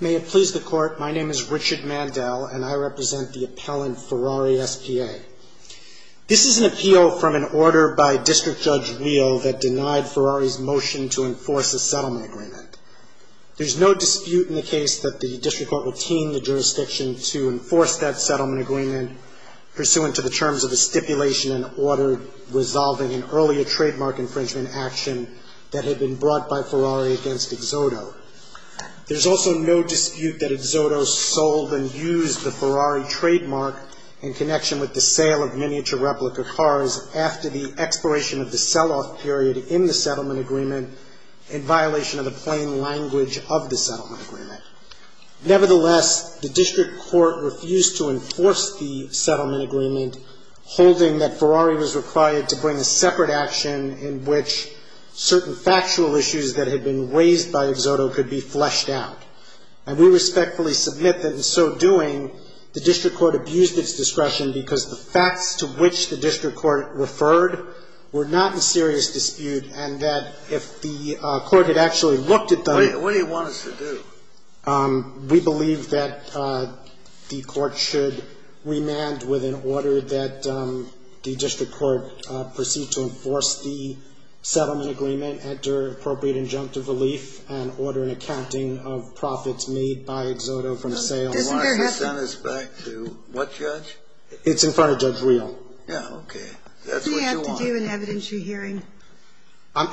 May it please the Court, my name is Richard Mandel and I represent the appellant Ferrari S.P.A. This is an appeal from an order by District Judge Weill that denied Ferrari's motion to enforce a settlement agreement. There's no dispute in the case that the District Court will team the jurisdiction to enforce that settlement agreement pursuant to the terms of the stipulation and order resolving an earlier trademark infringement action that had been brought by Ferrari against Exoto. There's also no dispute that Exoto sold and used the Ferrari trademark in connection with the sale of miniature replica cars after the expiration of the sell-off period in the settlement agreement in violation of the plain language of the settlement agreement. Nevertheless, the District Court refused to enforce the settlement agreement holding that Ferrari was required to bring a separate action in which certain factual issues that had been raised by Exoto could be fleshed out. And we respectfully submit that in so doing, the District Court abused its discretion because the facts to which the District Court referred were not in serious dispute and that if the Court had actually looked at them What do you want us to do? We believe that the Court should remand with an order that the District Court proceed to enforce the settlement agreement under appropriate injunctive relief and order an accounting of profits made by Exoto from a sale. Doesn't there have to be Why don't you send this back to what judge? It's in front of Judge Weill. Yeah, okay. That's what you want. Doesn't he have to do an evidentiary hearing?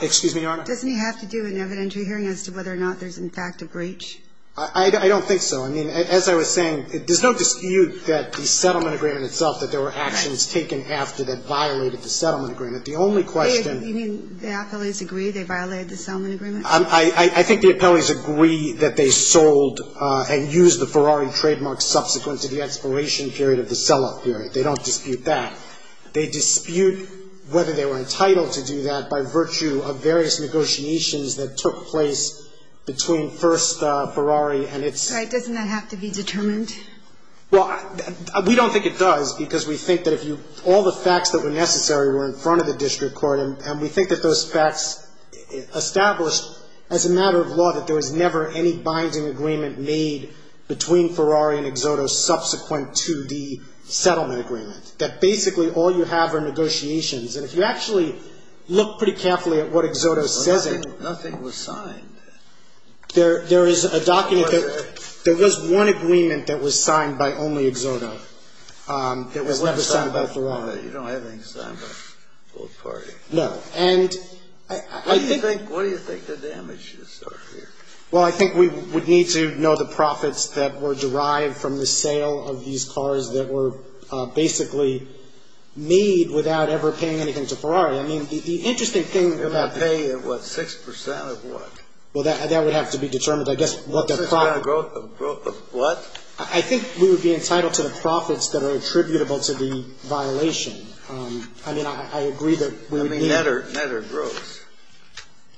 Excuse me, Your Honor? Doesn't he have to do an evidentiary hearing as to whether or not there's in fact a breach? I don't think so. I mean, as I was saying, there's no dispute that the settlement agreement itself, that there were actions taken after that violated the settlement agreement. The only question You mean the appellees agree they violated the settlement agreement? I think the appellees agree that they sold and used the Ferrari trademark subsequent to the expiration period of the sell-off period. They don't dispute that. They dispute whether they were entitled to do that by virtue of various negotiations that took place between First Ferrari and its Right. Doesn't that have to be determined? Well, we don't think it does because we think that if you all the facts that were necessary were in front of the district court and we think that those facts established as a matter of law that there was never any binding agreement made between Ferrari and Exoto subsequent to the settlement agreement. That basically all you have are negotiations. And if you actually look pretty carefully at what Exoto says Nothing was signed. There is a document that there was one agreement that was signed by only Exoto that was never signed by Ferrari. You don't have anything signed by both parties. No. And I think What do you think the damages are here? Well, I think we would need to know the profits that were derived from the sale of these cars that were basically made without ever paying anything to Ferrari. I mean, the interesting thing about If I pay, what, 6% of what? Well, that would have to be determined. I guess what the 6% growth of what? I think we would be entitled to the profits that are attributable to the violation. I mean, I agree that we would need I mean, net or gross?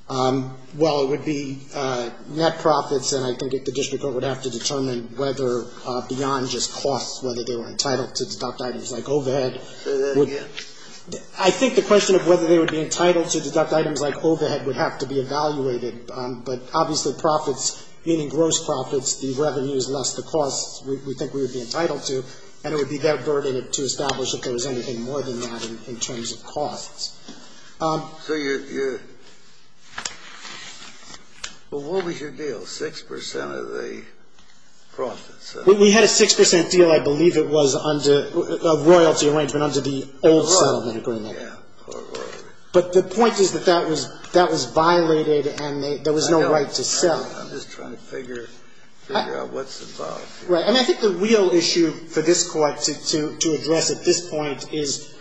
Well, it would be net profits. And I think the district court would have to determine whether beyond just costs, whether they were entitled to deduct items like overhead. Say that again. I think the question of whether they would be entitled to deduct items like overhead would have to be evaluated. But obviously, profits, meaning gross profits, the revenue is less the costs we think we would be entitled to, and it would be that burden to establish if there was anything more than that in terms of costs. So you're Well, what was your deal? 6% of the profits? We had a 6% deal, I believe it was, under a royalty arrangement under the old settlement agreement. Yeah. But the point is that that was violated and there was no right to sell. I know. I'm just trying to figure out what's involved here. Right. I mean, I think the real issue for this Court to address at this point is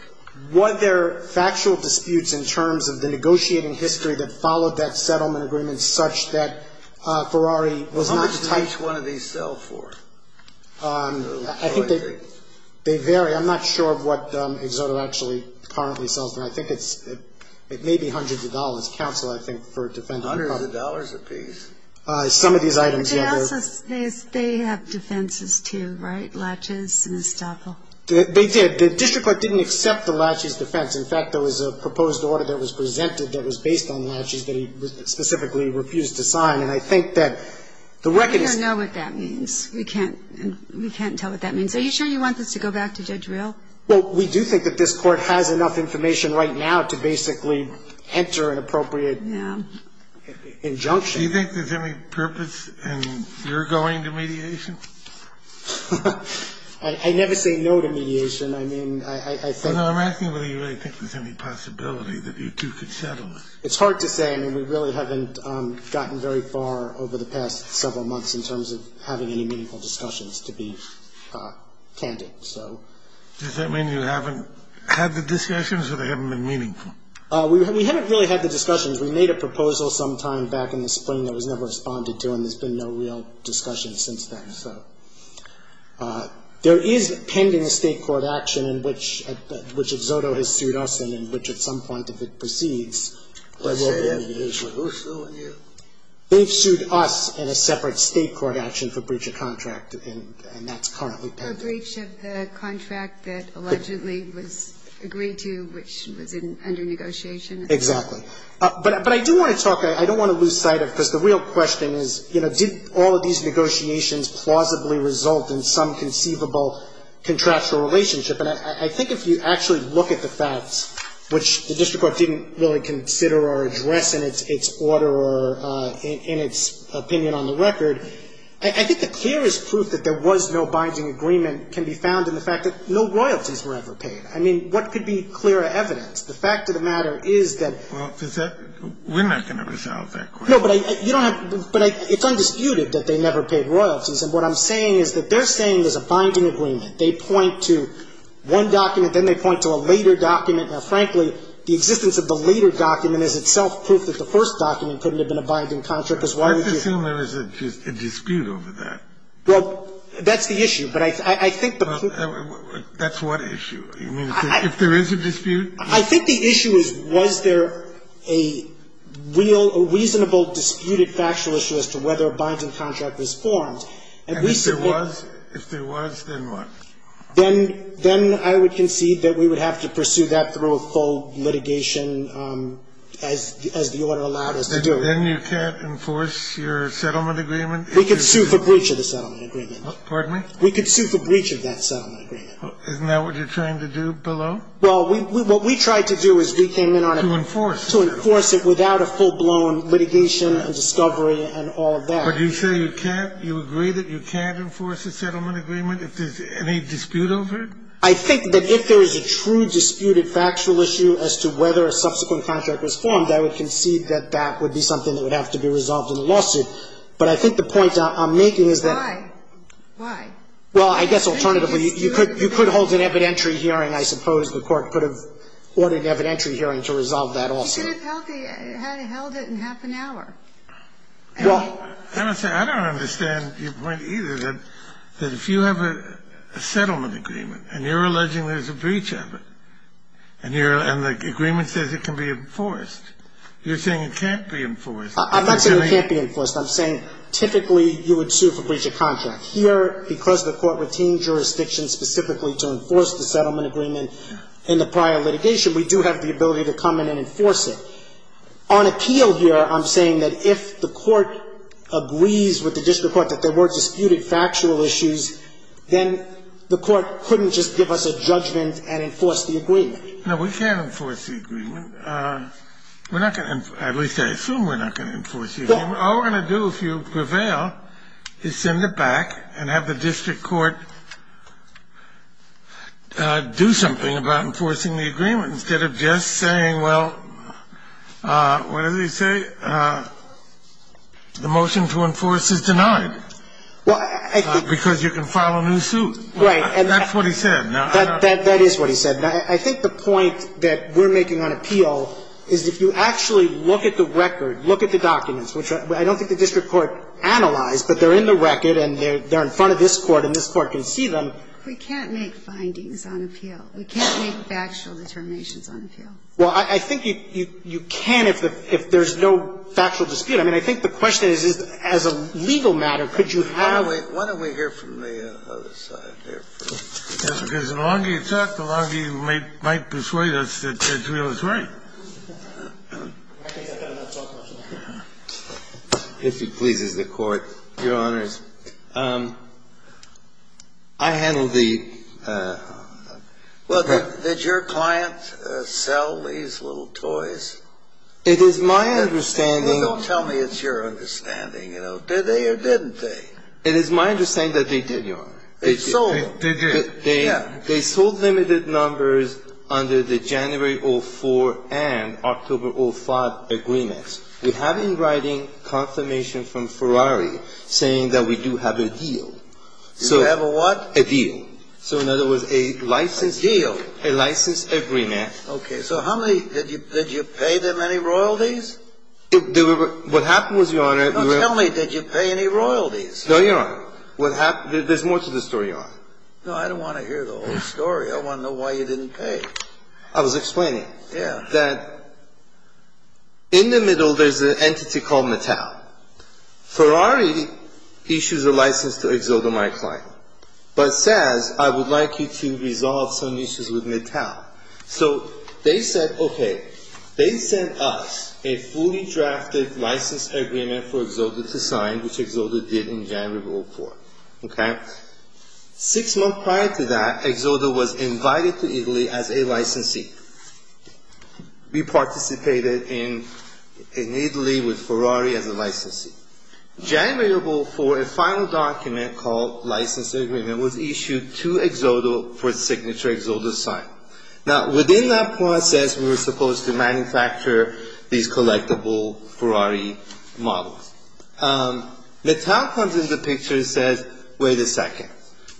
whether factual disputes in terms of the negotiating history that followed that settlement agreement such that Ferrari was not How much did each one of these sell for? I think they vary. I'm not sure of what Exodo actually currently sells for. I think it may be hundreds of dollars. Counsel, I think, for a defendant Hundreds of dollars apiece. Some of these items, yeah. They have defenses, too, right? Latches and estoppel. They did. The district court didn't accept the latches defense. In fact, there was a proposed order that was presented that was based on latches that he specifically refused to sign. And I think that the record is We don't know what that means. We can't tell what that means. Are you sure you want this to go back to Judge Real? Well, we do think that this Court has enough information right now to basically enter an appropriate Yeah. Injunction. Do you think there's any purpose in your going to mediation? I never say no to mediation. I mean, I think No, I'm asking whether you really think there's any possibility that you two could settle it. It's hard to say. I mean, we really haven't gotten very far over the past several months in terms of having any meaningful discussions to be candid. So Does that mean you haven't had the discussions or they haven't been meaningful? We haven't really had the discussions. We made a proposal sometime back in the spring that was never responded to, and there's been no real discussion since then. So there is pending a State court action in which Xodo has sued us and in which at some point if it proceeds, there will be a mediation. Who's suing you? They've sued us in a separate State court action for breach of contract, and that's currently pending. A breach of the contract that allegedly was agreed to, which was under negotiation. Exactly. But I do want to talk. I don't want to lose sight of it, because the real question is, you know, did all of these negotiations plausibly result in some conceivable contractual relationship? And I think if you actually look at the facts, which the district court didn't really consider or address in its order or in its opinion on the record, I think the clearest proof that there was no binding agreement can be found in the fact that no royalties were ever paid. I mean, what could be clearer evidence? The fact of the matter is that. Well, we're not going to resolve that question. No, but you don't have to. But it's undisputed that they never paid royalties. And what I'm saying is that they're saying there's a binding agreement. They point to one document, then they point to a later document. Now, frankly, the existence of the later document is itself proof that the first document couldn't have been a binding contract, because why would you. I presume there is a dispute over that. Well, that's the issue. But I think the proof. That's what issue? You mean to say if there is a dispute? I think the issue is was there a reasonable disputed factual issue as to whether a binding contract was formed. And if there was, if there was, then what? Then I would concede that we would have to pursue that through a full litigation as the order allowed us to do. Then you can't enforce your settlement agreement? We could sue for breach of the settlement agreement. Pardon me? We could sue for breach of that settlement agreement. Isn't that what you're trying to do below? Well, what we tried to do is we came in on it. To enforce it. To enforce it without a full-blown litigation and discovery and all that. But you say you can't, you agree that you can't enforce a settlement agreement if there's any dispute over it? I think that if there is a true disputed factual issue as to whether a subsequent contract was formed, I would concede that that would be something that would have to be resolved in a lawsuit. But I think the point I'm making is that. Why? Why? Well, I guess alternatively, you could hold an evidentiary hearing. I suppose the Court could have ordered an evidentiary hearing to resolve that also. You could have held it in half an hour. Well. I don't understand your point either, that if you have a settlement agreement and you're alleging there's a breach of it, and the agreement says it can be enforced, you're saying it can't be enforced. I'm not saying it can't be enforced. I'm saying typically you would sue for breach of contract. Here, because the Court retained jurisdiction specifically to enforce the settlement agreement in the prior litigation, we do have the ability to come in and enforce it. On appeal here, I'm saying that if the Court agrees with the district court that there were disputed factual issues, then the Court couldn't just give us a judgment and enforce the agreement. No, we can't enforce the agreement. We're not going to – at least I assume we're not going to enforce the agreement. All we're going to do, if you prevail, is send it back and have the district court do something about enforcing the agreement instead of just saying, well, what did he say, the motion to enforce is denied because you can file a new suit. Right. That's what he said. That is what he said. I think the point that we're making on appeal is if you actually look at the record, look at the documents, which I don't think the district court analyzed, but they're in the record and they're in front of this Court and this Court can see them. We can't make findings on appeal. We can't make factual determinations on appeal. Well, I think you can if there's no factual dispute. I mean, I think the question is, as a legal matter, could you have – Why don't we hear from the other side here? Because the longer you talk, the longer you might persuade us that Israel is right. If it pleases the Court, Your Honors, I handled the – Well, did your client sell these little toys? It is my understanding – Well, don't tell me it's your understanding, you know. Did they or didn't they? It is my understanding that they did, Your Honor. They sold them. They did. They sold limited numbers under the January 2004 and October 2005 agreements. We have in writing confirmation from Ferrari saying that we do have a deal. You have a what? A deal. So in other words, a licensed deal. A deal. A licensed agreement. Okay. So how many – did you pay them any royalties? No, tell me. Did you pay any royalties? No, Your Honor. What happened – there's more to the story, Your Honor. No, I don't want to hear the whole story. I want to know why you didn't pay. I was explaining. Yeah. That in the middle there's an entity called Mattel. Ferrari issues a license to Exodo, my client, but says I would like you to resolve some issues with Mattel. So they said, okay, they sent us a fully drafted license agreement for Exodo to sign, which Exodo did in January 2004. Okay. Six months prior to that, Exodo was invited to Italy as a licensee. We participated in Italy with Ferrari as a licensee. January 2004, a final document called license agreement was issued to Exodo for the signature Exodo sign. Now, within that process, we were supposed to manufacture these collectible Ferrari models. Mattel comes in the picture and says, wait a second.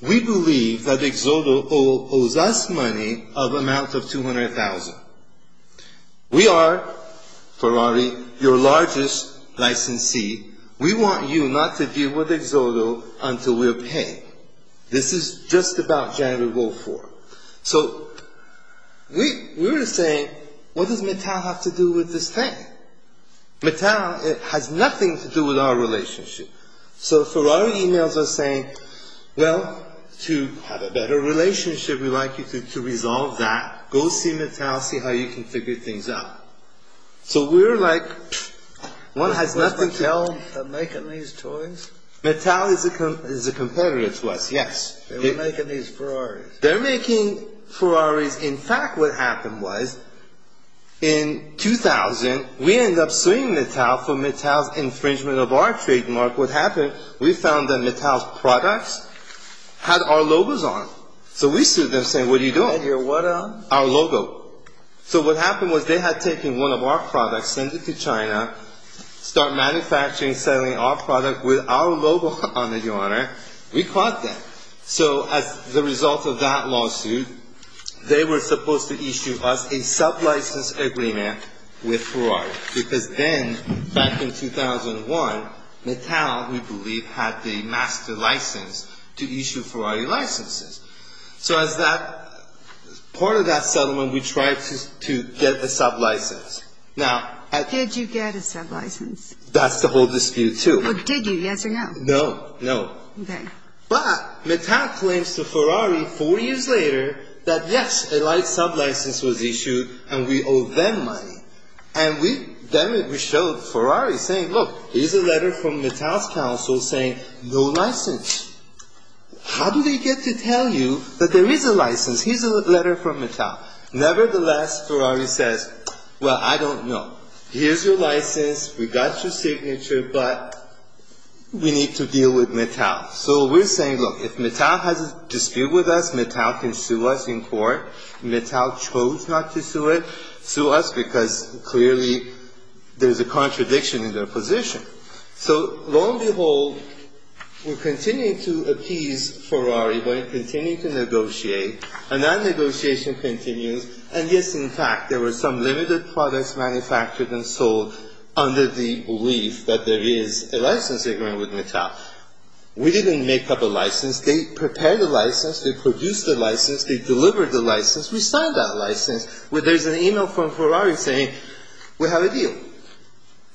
We believe that Exodo owes us money of amount of $200,000. We are, Ferrari, your largest licensee. We want you not to deal with Exodo until we're paid. This is just about January 2004. So we were saying, what does Mattel have to do with this thing? Mattel has nothing to do with our relationship. So Ferrari emails us saying, well, to have a better relationship, we'd like you to resolve that. Go see Mattel, see how you can figure things out. So we're like, one has nothing to... Was Mattel making these toys? Mattel is a competitor to us, yes. They were making these Ferraris. They're making Ferraris. In fact, what happened was, in 2000, we ended up suing Mattel for Mattel's infringement of our trademark. What happened, we found that Mattel's products had our logos on them. So we sued them saying, what are you doing? Our logo. So what happened was they had taken one of our products, sent it to China, start manufacturing and selling our product with our logo on it, Your Honor. We caught them. So as the result of that lawsuit, they were supposed to issue us a sublicense agreement with Ferrari. Because then, back in 2001, Mattel, we believe, had the master license to issue Ferrari licenses. So as that part of that settlement, we tried to get a sublicense. Now... Did you get a sublicense? That's the whole dispute, too. Did you, yes or no? No, no. Okay. But Mattel claims to Ferrari, four years later, that yes, a light sublicense was issued and we owe them money. And we, then we showed Ferrari saying, look, here's a letter from Mattel's counsel saying, no license. How do they get to tell you that there is a license? Here's a letter from Mattel. Nevertheless, Ferrari says, well, I don't know. Here's your license, we got your signature, but we need to deal with Mattel. So we're saying, look, if Mattel has a dispute with us, Mattel can sue us in court. Mattel chose not to sue us because, clearly, there's a contradiction in their position. So, lo and behold, we're continuing to appease Ferrari by continuing to negotiate. And that negotiation continues. And, yes, in fact, there were some limited products manufactured and sold under the belief that there is a license agreement with Mattel. We didn't make up a license. They prepared the license. They produced the license. They delivered the license. We signed that license. There's an e-mail from Ferrari saying, we have a deal.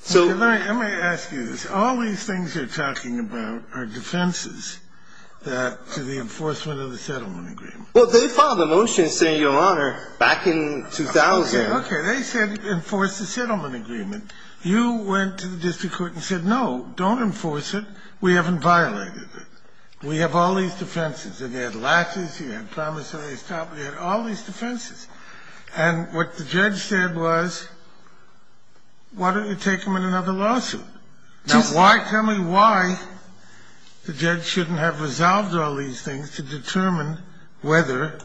So... Okay, Larry, let me ask you this. All these things you're talking about are defenses to the enforcement of the settlement agreement. Well, they filed a motion saying, Your Honor, back in 2000... Okay, okay. They said enforce the settlement agreement. You went to the district court and said, no, don't enforce it. We haven't violated it. We have all these defenses. And they had latches. They had promissory stop. They had all these defenses. And what the judge said was, why don't you take them in another lawsuit? Now, why, tell me why the judge shouldn't have resolved all these things to determine whether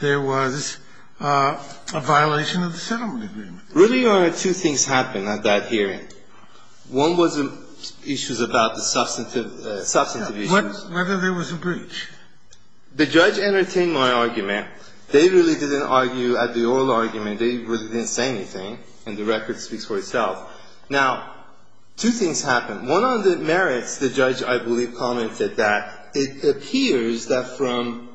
there was a violation of the settlement agreement? Really, Your Honor, two things happened at that hearing. One was issues about the substantive issues. Whether there was a breach. The judge entertained my argument. They really didn't argue at the oral argument. They really didn't say anything. And the record speaks for itself. Now, two things happened. One on the merits, the judge, I believe, commented that it appears that from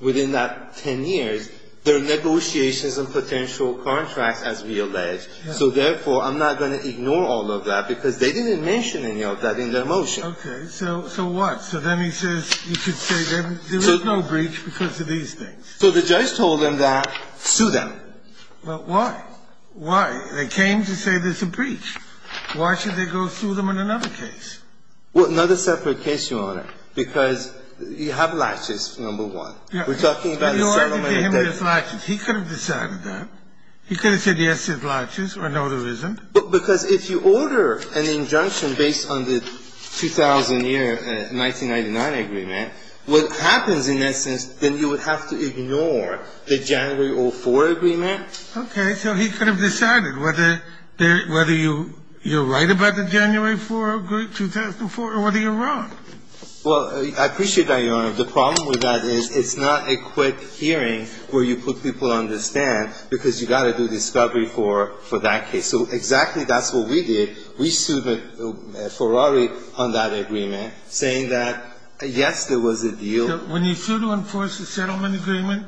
within that 10 years, there are negotiations and potential contracts, as we allege. So, therefore, I'm not going to ignore all of that because they didn't mention any of that in their motion. Okay. So what? So then he says you could say there was no breach because of these things. So the judge told them that. Sue them. But why? Why? They came to say there's a breach. Why should they go sue them in another case? Well, another separate case, Your Honor, because you have latches, number one. We're talking about a settlement. He could have decided that. He could have said, yes, there's latches or notarism. Because if you order an injunction based on the 2000-year 1999 agreement, what happens in that sense, then you would have to ignore the January 04 agreement. Okay. So he could have decided whether you're right about the January 04 agreement, 2004, or whether you're wrong. Well, I appreciate that, Your Honor. The problem with that is it's not a quick hearing where you put people to understand, because you've got to do discovery for that case. So exactly that's what we did. We sued Ferrari on that agreement, saying that, yes, there was a deal. When you sue to enforce a settlement agreement,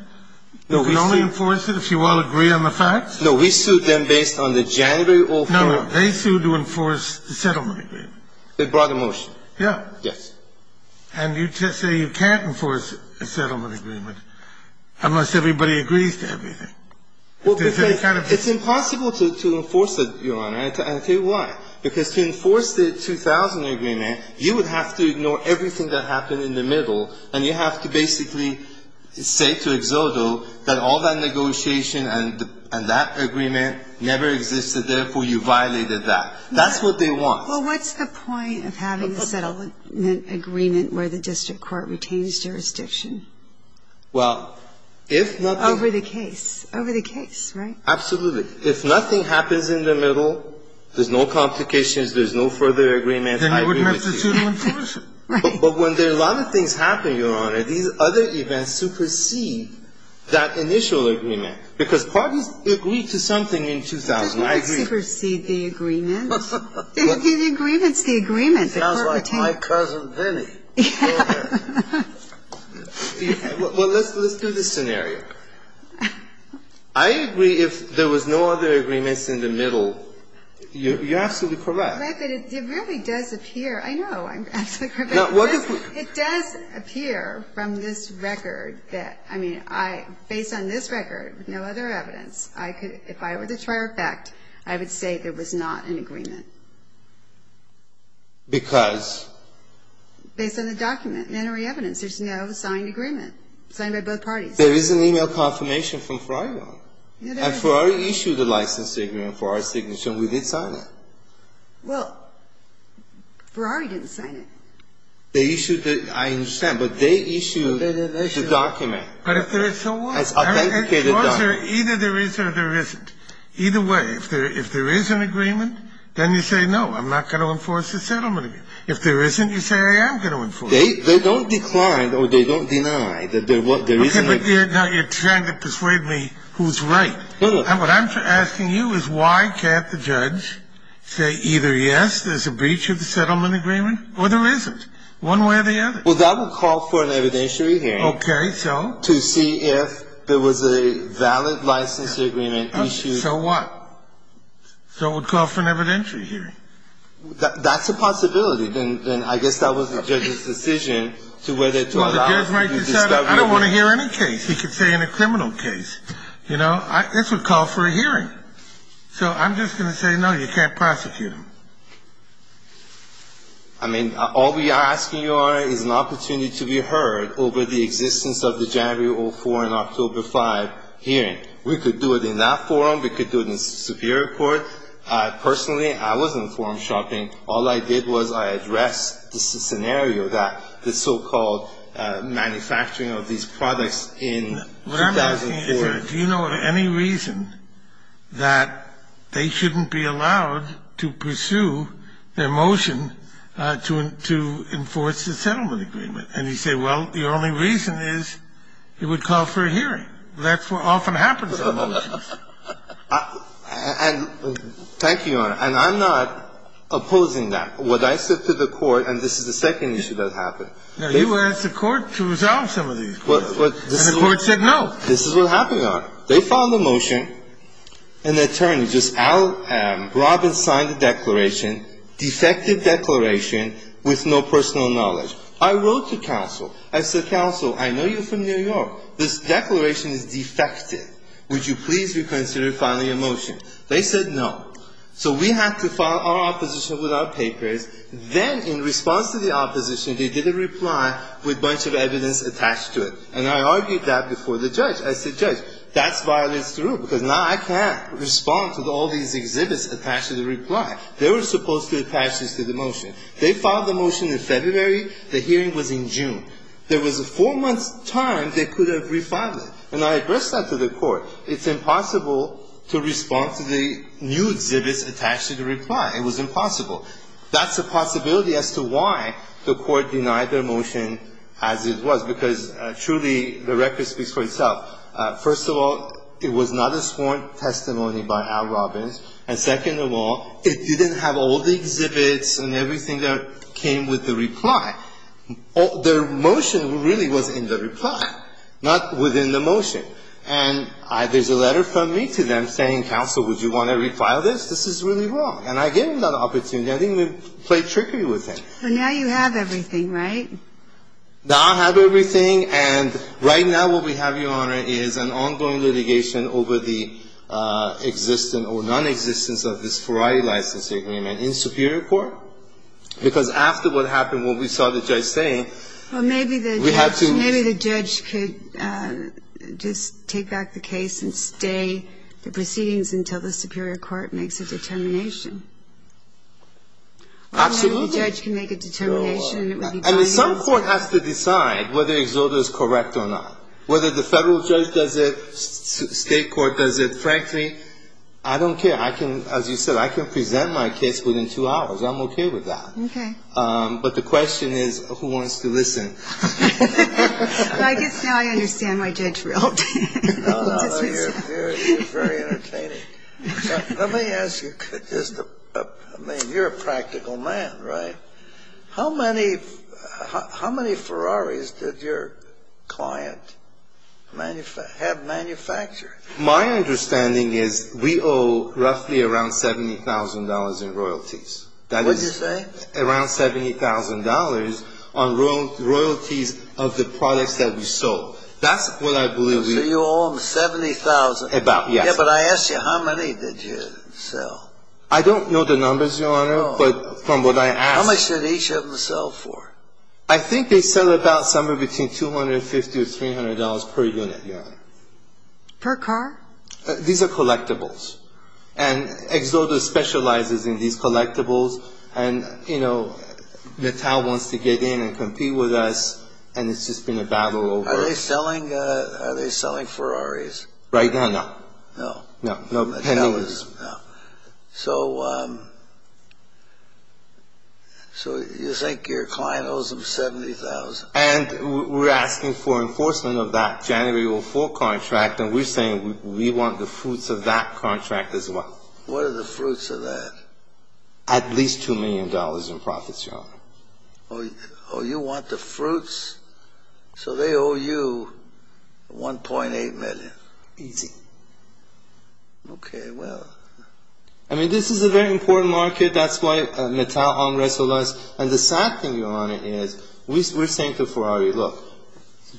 you can only enforce it if you all agree on the facts? No. We sued them based on the January 04. No. They sued to enforce the settlement agreement. They brought a motion. Yes. And you say you can't enforce a settlement agreement unless everybody agrees to everything. Well, because it's impossible to enforce it, Your Honor. And I'll tell you why. Because to enforce the 2000 agreement, you would have to ignore everything that happened in the middle, and you have to basically say to Exodo that all that negotiation and that agreement never existed, therefore you violated that. That's what they want. Well, what's the point of having a settlement agreement where the district court retains jurisdiction? Well, if nothing else. Over the case. Over the case, right? Absolutely. If nothing happens in the middle, there's no complications, there's no further agreements, I agree with you. Then you wouldn't have to sue to enforce it. Right. But when a lot of things happen, Your Honor, these other events supersede that initial agreement. Because parties agreed to something in 2000. I agree. It supersedes the agreement. The agreement's the agreement. It sounds like my cousin Vinnie. Well, let's do this scenario. I agree if there was no other agreements in the middle, you're absolutely correct. But it really does appear. I know. I'm absolutely correct. It does appear from this record that, I mean, based on this record, no other evidence, I could, if I were the trier of fact, I would say there was not an agreement. Because? Based on the document, mandatory evidence, there's no signed agreement, signed by both parties. There is an e-mail confirmation from Ferrari Law. And Ferrari issued a license agreement for our signature, and we did sign it. Well, Ferrari didn't sign it. They issued the, I understand, but they issued the document. But if there is, so what? It's an authenticated document. Either there is or there isn't. Either way, if there is an agreement, then you say, no, I'm not going to enforce the settlement agreement. If there isn't, you say, I am going to enforce it. They don't decline or they don't deny that there is an agreement. Now, you're trying to persuade me who's right. What I'm asking you is why can't the judge say either, yes, there's a breach of the settlement agreement, or there isn't, one way or the other? Well, that would call for an evidentiary hearing. Okay, so? To see if there was a valid license agreement issued. So what? So it would call for an evidentiary hearing. That's a possibility. Then I guess that was the judge's decision to whether to allow you to discover. Well, the judge might decide, I don't want to hear any case. He could say any criminal case. You know, this would call for a hearing. So I'm just going to say, no, you can't prosecute him. I mean, all we are asking you are is an opportunity to be heard over the existence of the January of 2004 and October 5 hearing. We could do it in that forum. We could do it in Superior Court. Personally, I was in forum shopping. All I did was I addressed the scenario that the so-called manufacturing of these products in 2004. The question is, do you know of any reason that they shouldn't be allowed to pursue their motion to enforce the settlement agreement? And you say, well, the only reason is it would call for a hearing. That's what often happens in the motions. Thank you, Your Honor. And I'm not opposing that. What I said to the Court, and this is the second issue that happened. Now, you asked the Court to resolve some of these cases. And the Court said no. This is what happened, Your Honor. They filed a motion. An attorney, just Al Robbins, signed the declaration, defective declaration with no personal knowledge. I wrote to counsel. I said, counsel, I know you're from New York. This declaration is defective. Would you please reconsider filing a motion? They said no. So we had to file our opposition with our papers. Then in response to the opposition, they did a reply with a bunch of evidence attached to it. And I argued that before the judge. I said, judge, that violates the rule, because now I can't respond to all these exhibits attached to the reply. They were supposed to attach this to the motion. They filed the motion in February. The hearing was in June. There was a four-month time they could have refiled it. And I addressed that to the Court. It's impossible to respond to the new exhibits attached to the reply. It was impossible. That's a possibility as to why the Court denied their motion as it was, because truly the record speaks for itself. First of all, it was not a sworn testimony by Al Robbins. And second of all, it didn't have all the exhibits and everything that came with the reply. Their motion really was in the reply, not within the motion. And there's a letter from me to them saying, counsel, would you want to refile this? This is really wrong. And I gave them that opportunity. I didn't even play tricky with it. But now you have everything, right? Now I have everything. And right now what we have, Your Honor, is an ongoing litigation over the existence or nonexistence of this variety license agreement in superior court, because after what happened, what we saw the judge saying, we had to ---- Well, maybe the judge could just take back the case and stay the proceedings until the superior court makes a determination. Absolutely. Maybe the judge can make a determination. And some court has to decide whether Exoda is correct or not. Whether the federal judge does it, state court does it. Frankly, I don't care. I can, as you said, I can present my case within two hours. I'm okay with that. Okay. But the question is, who wants to listen? Well, I guess now I understand why Judge Rield didn't dismiss it. You're very entertaining. Let me ask you, I mean, you're a practical man, right? How many Ferraris did your client have manufactured? My understanding is we owe roughly around $70,000 in royalties. What did you say? Around $70,000 on royalties of the products that we sold. That's what I believe we owe. So you owe them $70,000? About, yes. Yeah, but I asked you, how many did you sell? I don't know the numbers, Your Honor, but from what I asked. How much did each of them sell for? I think they sell about somewhere between $250 to $300 per unit, Your Honor. Per car? These are collectibles. And Exoda specializes in these collectibles. And, you know, Natal wants to get in and compete with us, and it's just been a battle over. Are they selling Ferraris? Right now, no. No. No. So you think your client owes them $70,000? And we're asking for enforcement of that January 04 contract, and we're saying we want the fruits of that contract as well. What are the fruits of that? At least $2 million in profits, Your Honor. Oh, you want the fruits? So they owe you $1.8 million. Easy. Okay, well. I mean, this is a very important market. That's why Natal hung wrestle us. And the sad thing, Your Honor, is we're saying to Ferrari, look,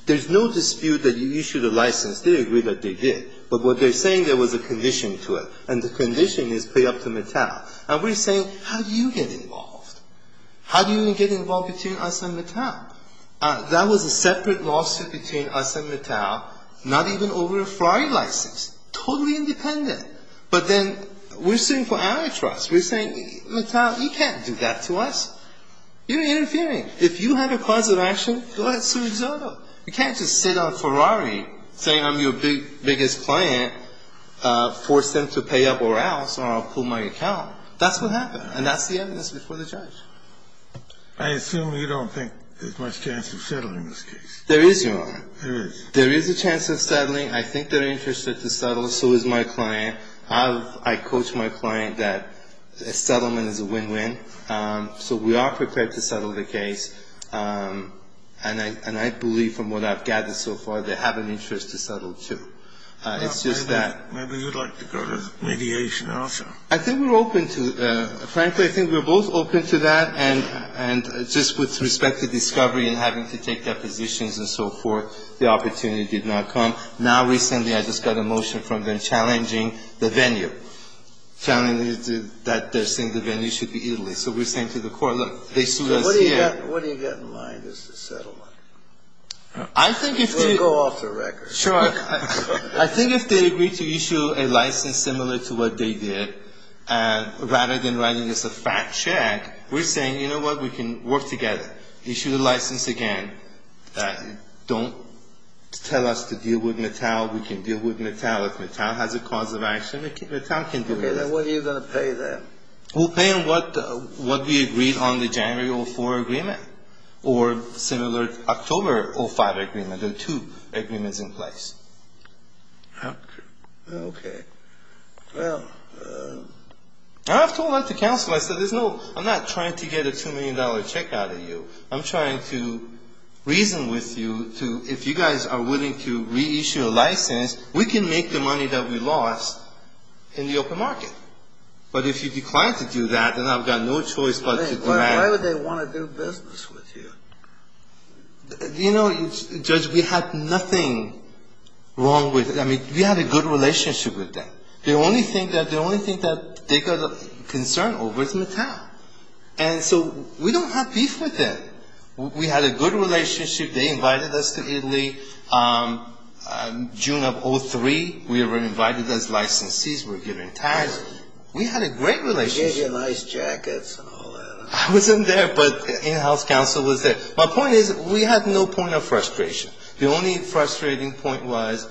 there's no dispute that you issued a license. They agree that they did. But what they're saying there was a condition to it, and the condition is pay up to Natal. And we're saying, how do you get involved? How do you even get involved between us and Natal? That was a separate lawsuit between us and Natal, not even over a Ferrari license. Totally independent. But then we're suing for antitrust. We're saying, Natal, you can't do that to us. You're interfering. If you have a cause of action, go ahead and sue Zotto. You can't just sit on Ferrari saying I'm your biggest client, force them to pay up or else, or I'll pull my account. That's what happened. And that's the evidence before the judge. I assume you don't think there's much chance of settling this case. There is, Your Honor. There is. There is a chance of settling. I think they're interested to settle. So is my client. I coach my client that a settlement is a win-win. So we are prepared to settle the case. And I believe from what I've gathered so far, they have an interest to settle too. It's just that. Maybe you'd like to go to mediation also. I think we're open to it. Frankly, I think we're both open to that. And just with respect to discovery and having to take their positions and so forth, the opportunity did not come. Now recently I just got a motion from them challenging the venue, challenging that their single venue should be Italy. So we're saying to the court, look, they sued us here. What do you got in mind as a settlement? I think if they. We'll go off the record. Sure. I think if they agree to issue a license similar to what they did, rather than writing us a fact check, we're saying, you know what, we can work together. Issue the license again. Don't tell us to deal with Mattel. We can deal with Mattel. If Mattel has a cause of action, Mattel can deal with it. Okay. Then what are you going to pay them? We'll pay them what we agreed on the January 2004 agreement or similar October 2005 agreement. There are two agreements in place. Okay. Well, I've told that to counsel. I said there's no. I'm not trying to get a $2 million check out of you. I'm trying to reason with you to if you guys are willing to reissue a license, we can make the money that we lost in the open market. But if you decline to do that, then I've got no choice but to demand it. Why would they want to do business with you? You know, Judge, we had nothing wrong with it. I mean, we had a good relationship with them. The only thing that they got concerned over is Mattel. And so we don't have beef with them. We had a good relationship. They invited us to Italy. June of 2003, we were invited as licensees. We were given tags. We had a great relationship. They gave you nice jackets and all that. I wasn't there, but in-house counsel was there. My point is we had no point of frustration. The only frustrating point was,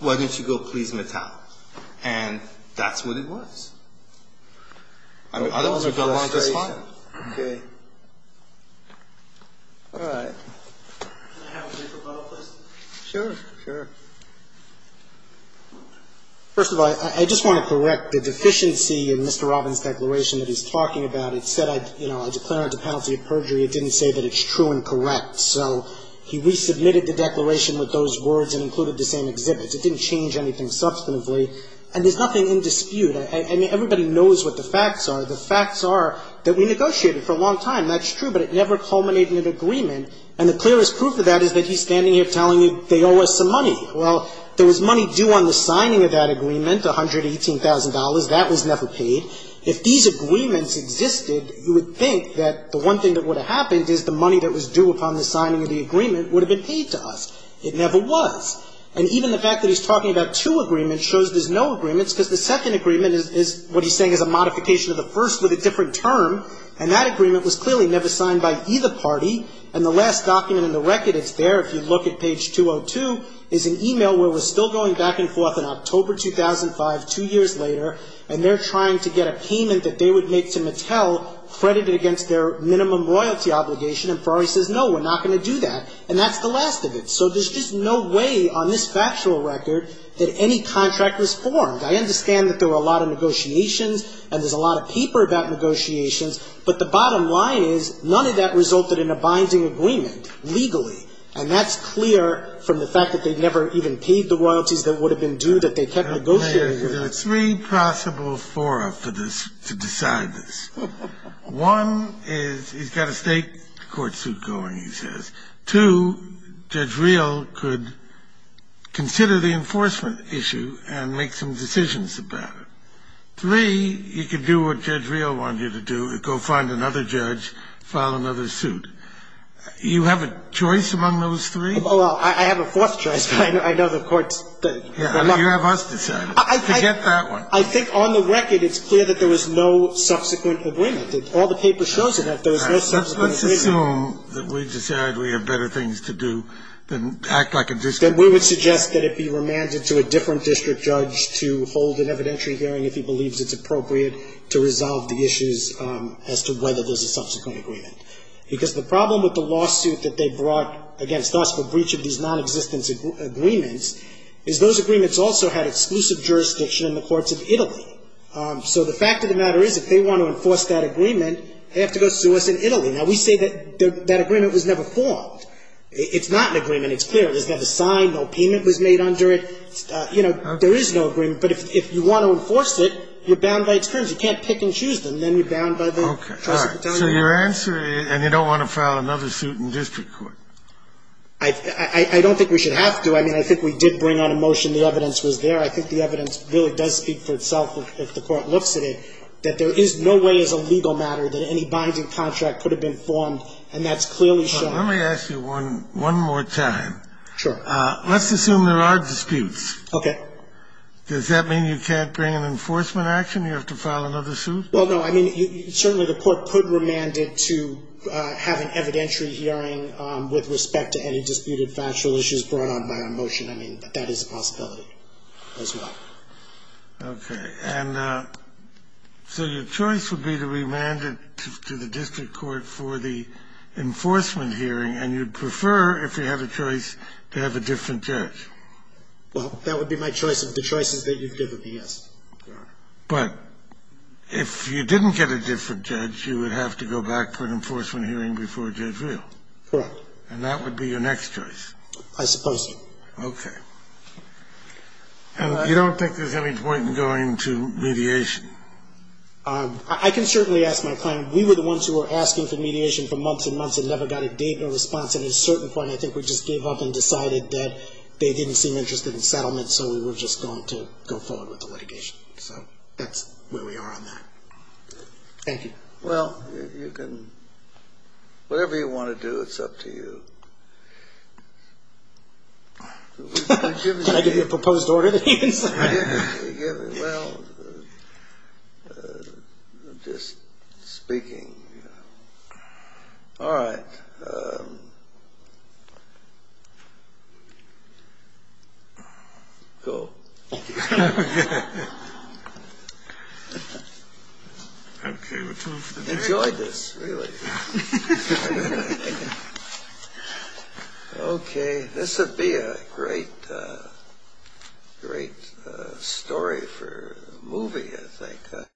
why didn't you go please Mattel? And that's what it was. I mean, other ones have gone along just fine. Okay. All right. Can I have a paper, please? Sure. Sure. First of all, I just want to correct the deficiency in Mr. Robbins' declaration that he's talking about. It said I declared it a penalty of perjury. It didn't say that it's true and correct. So he resubmitted the declaration with those words and included the same exhibits. It didn't change anything substantively. And there's nothing in dispute. I mean, everybody knows what the facts are. The facts are that we negotiated for a long time. That's true. But it never culminated in an agreement. And the clearest proof of that is that he's standing here telling you they owe us some money. Well, there was money due on the signing of that agreement, $118,000. That was never paid. If these agreements existed, you would think that the one thing that would have happened is the money that was due upon the signing of the agreement would have been paid to us. It never was. And even the fact that he's talking about two agreements shows there's no agreements because the second agreement is what he's saying is a modification of the first with a different term. And that agreement was clearly never signed by either party. And the last document in the record that's there, if you look at page 202, is an email where we're still going back and forth in October 2005, two years later. And they're trying to get a payment that they would make to Mattel credited against their minimum royalty obligation. And Ferrari says, no, we're not going to do that. And that's the last of it. So there's just no way on this factual record that any contract was formed. I understand that there were a lot of negotiations and there's a lot of paper about negotiations. But the bottom line is none of that resulted in a binding agreement legally. And that's clear from the fact that they never even paid the royalties that would have been due, that they kept negotiating with us. There are three possible fora for this, to decide this. One is he's got a state court suit going, he says. Two, Judge Reel could consider the enforcement issue and make some decisions about it. Three, you could do what Judge Reel wanted you to do, go find another judge, file another suit. You have a choice among those three? Well, I have a fourth choice, but I know the court's. You have us decide it. Forget that one. I think on the record it's clear that there was no subsequent agreement. All the paper shows that there was no subsequent agreement. Let's assume that we decide we have better things to do than act like a district. Then we would suggest that it be remanded to a different district judge to hold an evidentiary hearing if he believes it's appropriate to resolve the issues as to whether there's a subsequent agreement. Because the problem with the lawsuit that they brought against us for breach of these nonexistent agreements is those agreements also had exclusive jurisdiction in the courts of Italy. So the fact of the matter is if they want to enforce that agreement, they have to go sue us in Italy. Now, we say that that agreement was never formed. It's not an agreement. It's clear. There's never a sign. No payment was made under it. You know, there is no agreement. But if you want to enforce it, you're bound by its terms. You can't pick and choose them. Then you're bound by the trusts that tell you that. Okay. All right. So your answer is, and you don't want to file another suit in district court? I don't think we should have to. I mean, I think we did bring on a motion. The evidence was there. I think the evidence really does speak for itself if the Court looks at it, that there is no way as a legal matter that any binding contract could have been formed, and that's clearly shown. Let me ask you one more time. Sure. Let's assume there are disputes. Okay. Does that mean you can't bring an enforcement action? You have to file another suit? Well, no. I mean, certainly the Court could remand it to have an evidentiary hearing with respect to any disputed factual issues brought on by our motion. I mean, that is a possibility as well. Okay. And so your choice would be to remand it to the district court for the enforcement hearing, and you'd prefer, if you have a choice, to have a different judge? Well, that would be my choice. The choices that you've given me, yes. Okay. But if you didn't get a different judge, you would have to go back for an enforcement hearing before Judge Reel. Correct. And that would be your next choice? I suppose so. Okay. And you don't think there's any point in going to mediation? I can certainly ask my client. We were the ones who were asking for mediation for months and months and never got a date or response. At a certain point, I think we just gave up and decided that they didn't seem interested in settlement, so we were just going to go forward with the litigation. So that's where we are on that. Thank you. Well, you can – whatever you want to do, it's up to you. Can I give you a proposed order that he can sign? Well, just speaking. All right. Go. Okay. We're done for the day. I enjoyed this, really. Okay. This would be a great story for a movie, I think.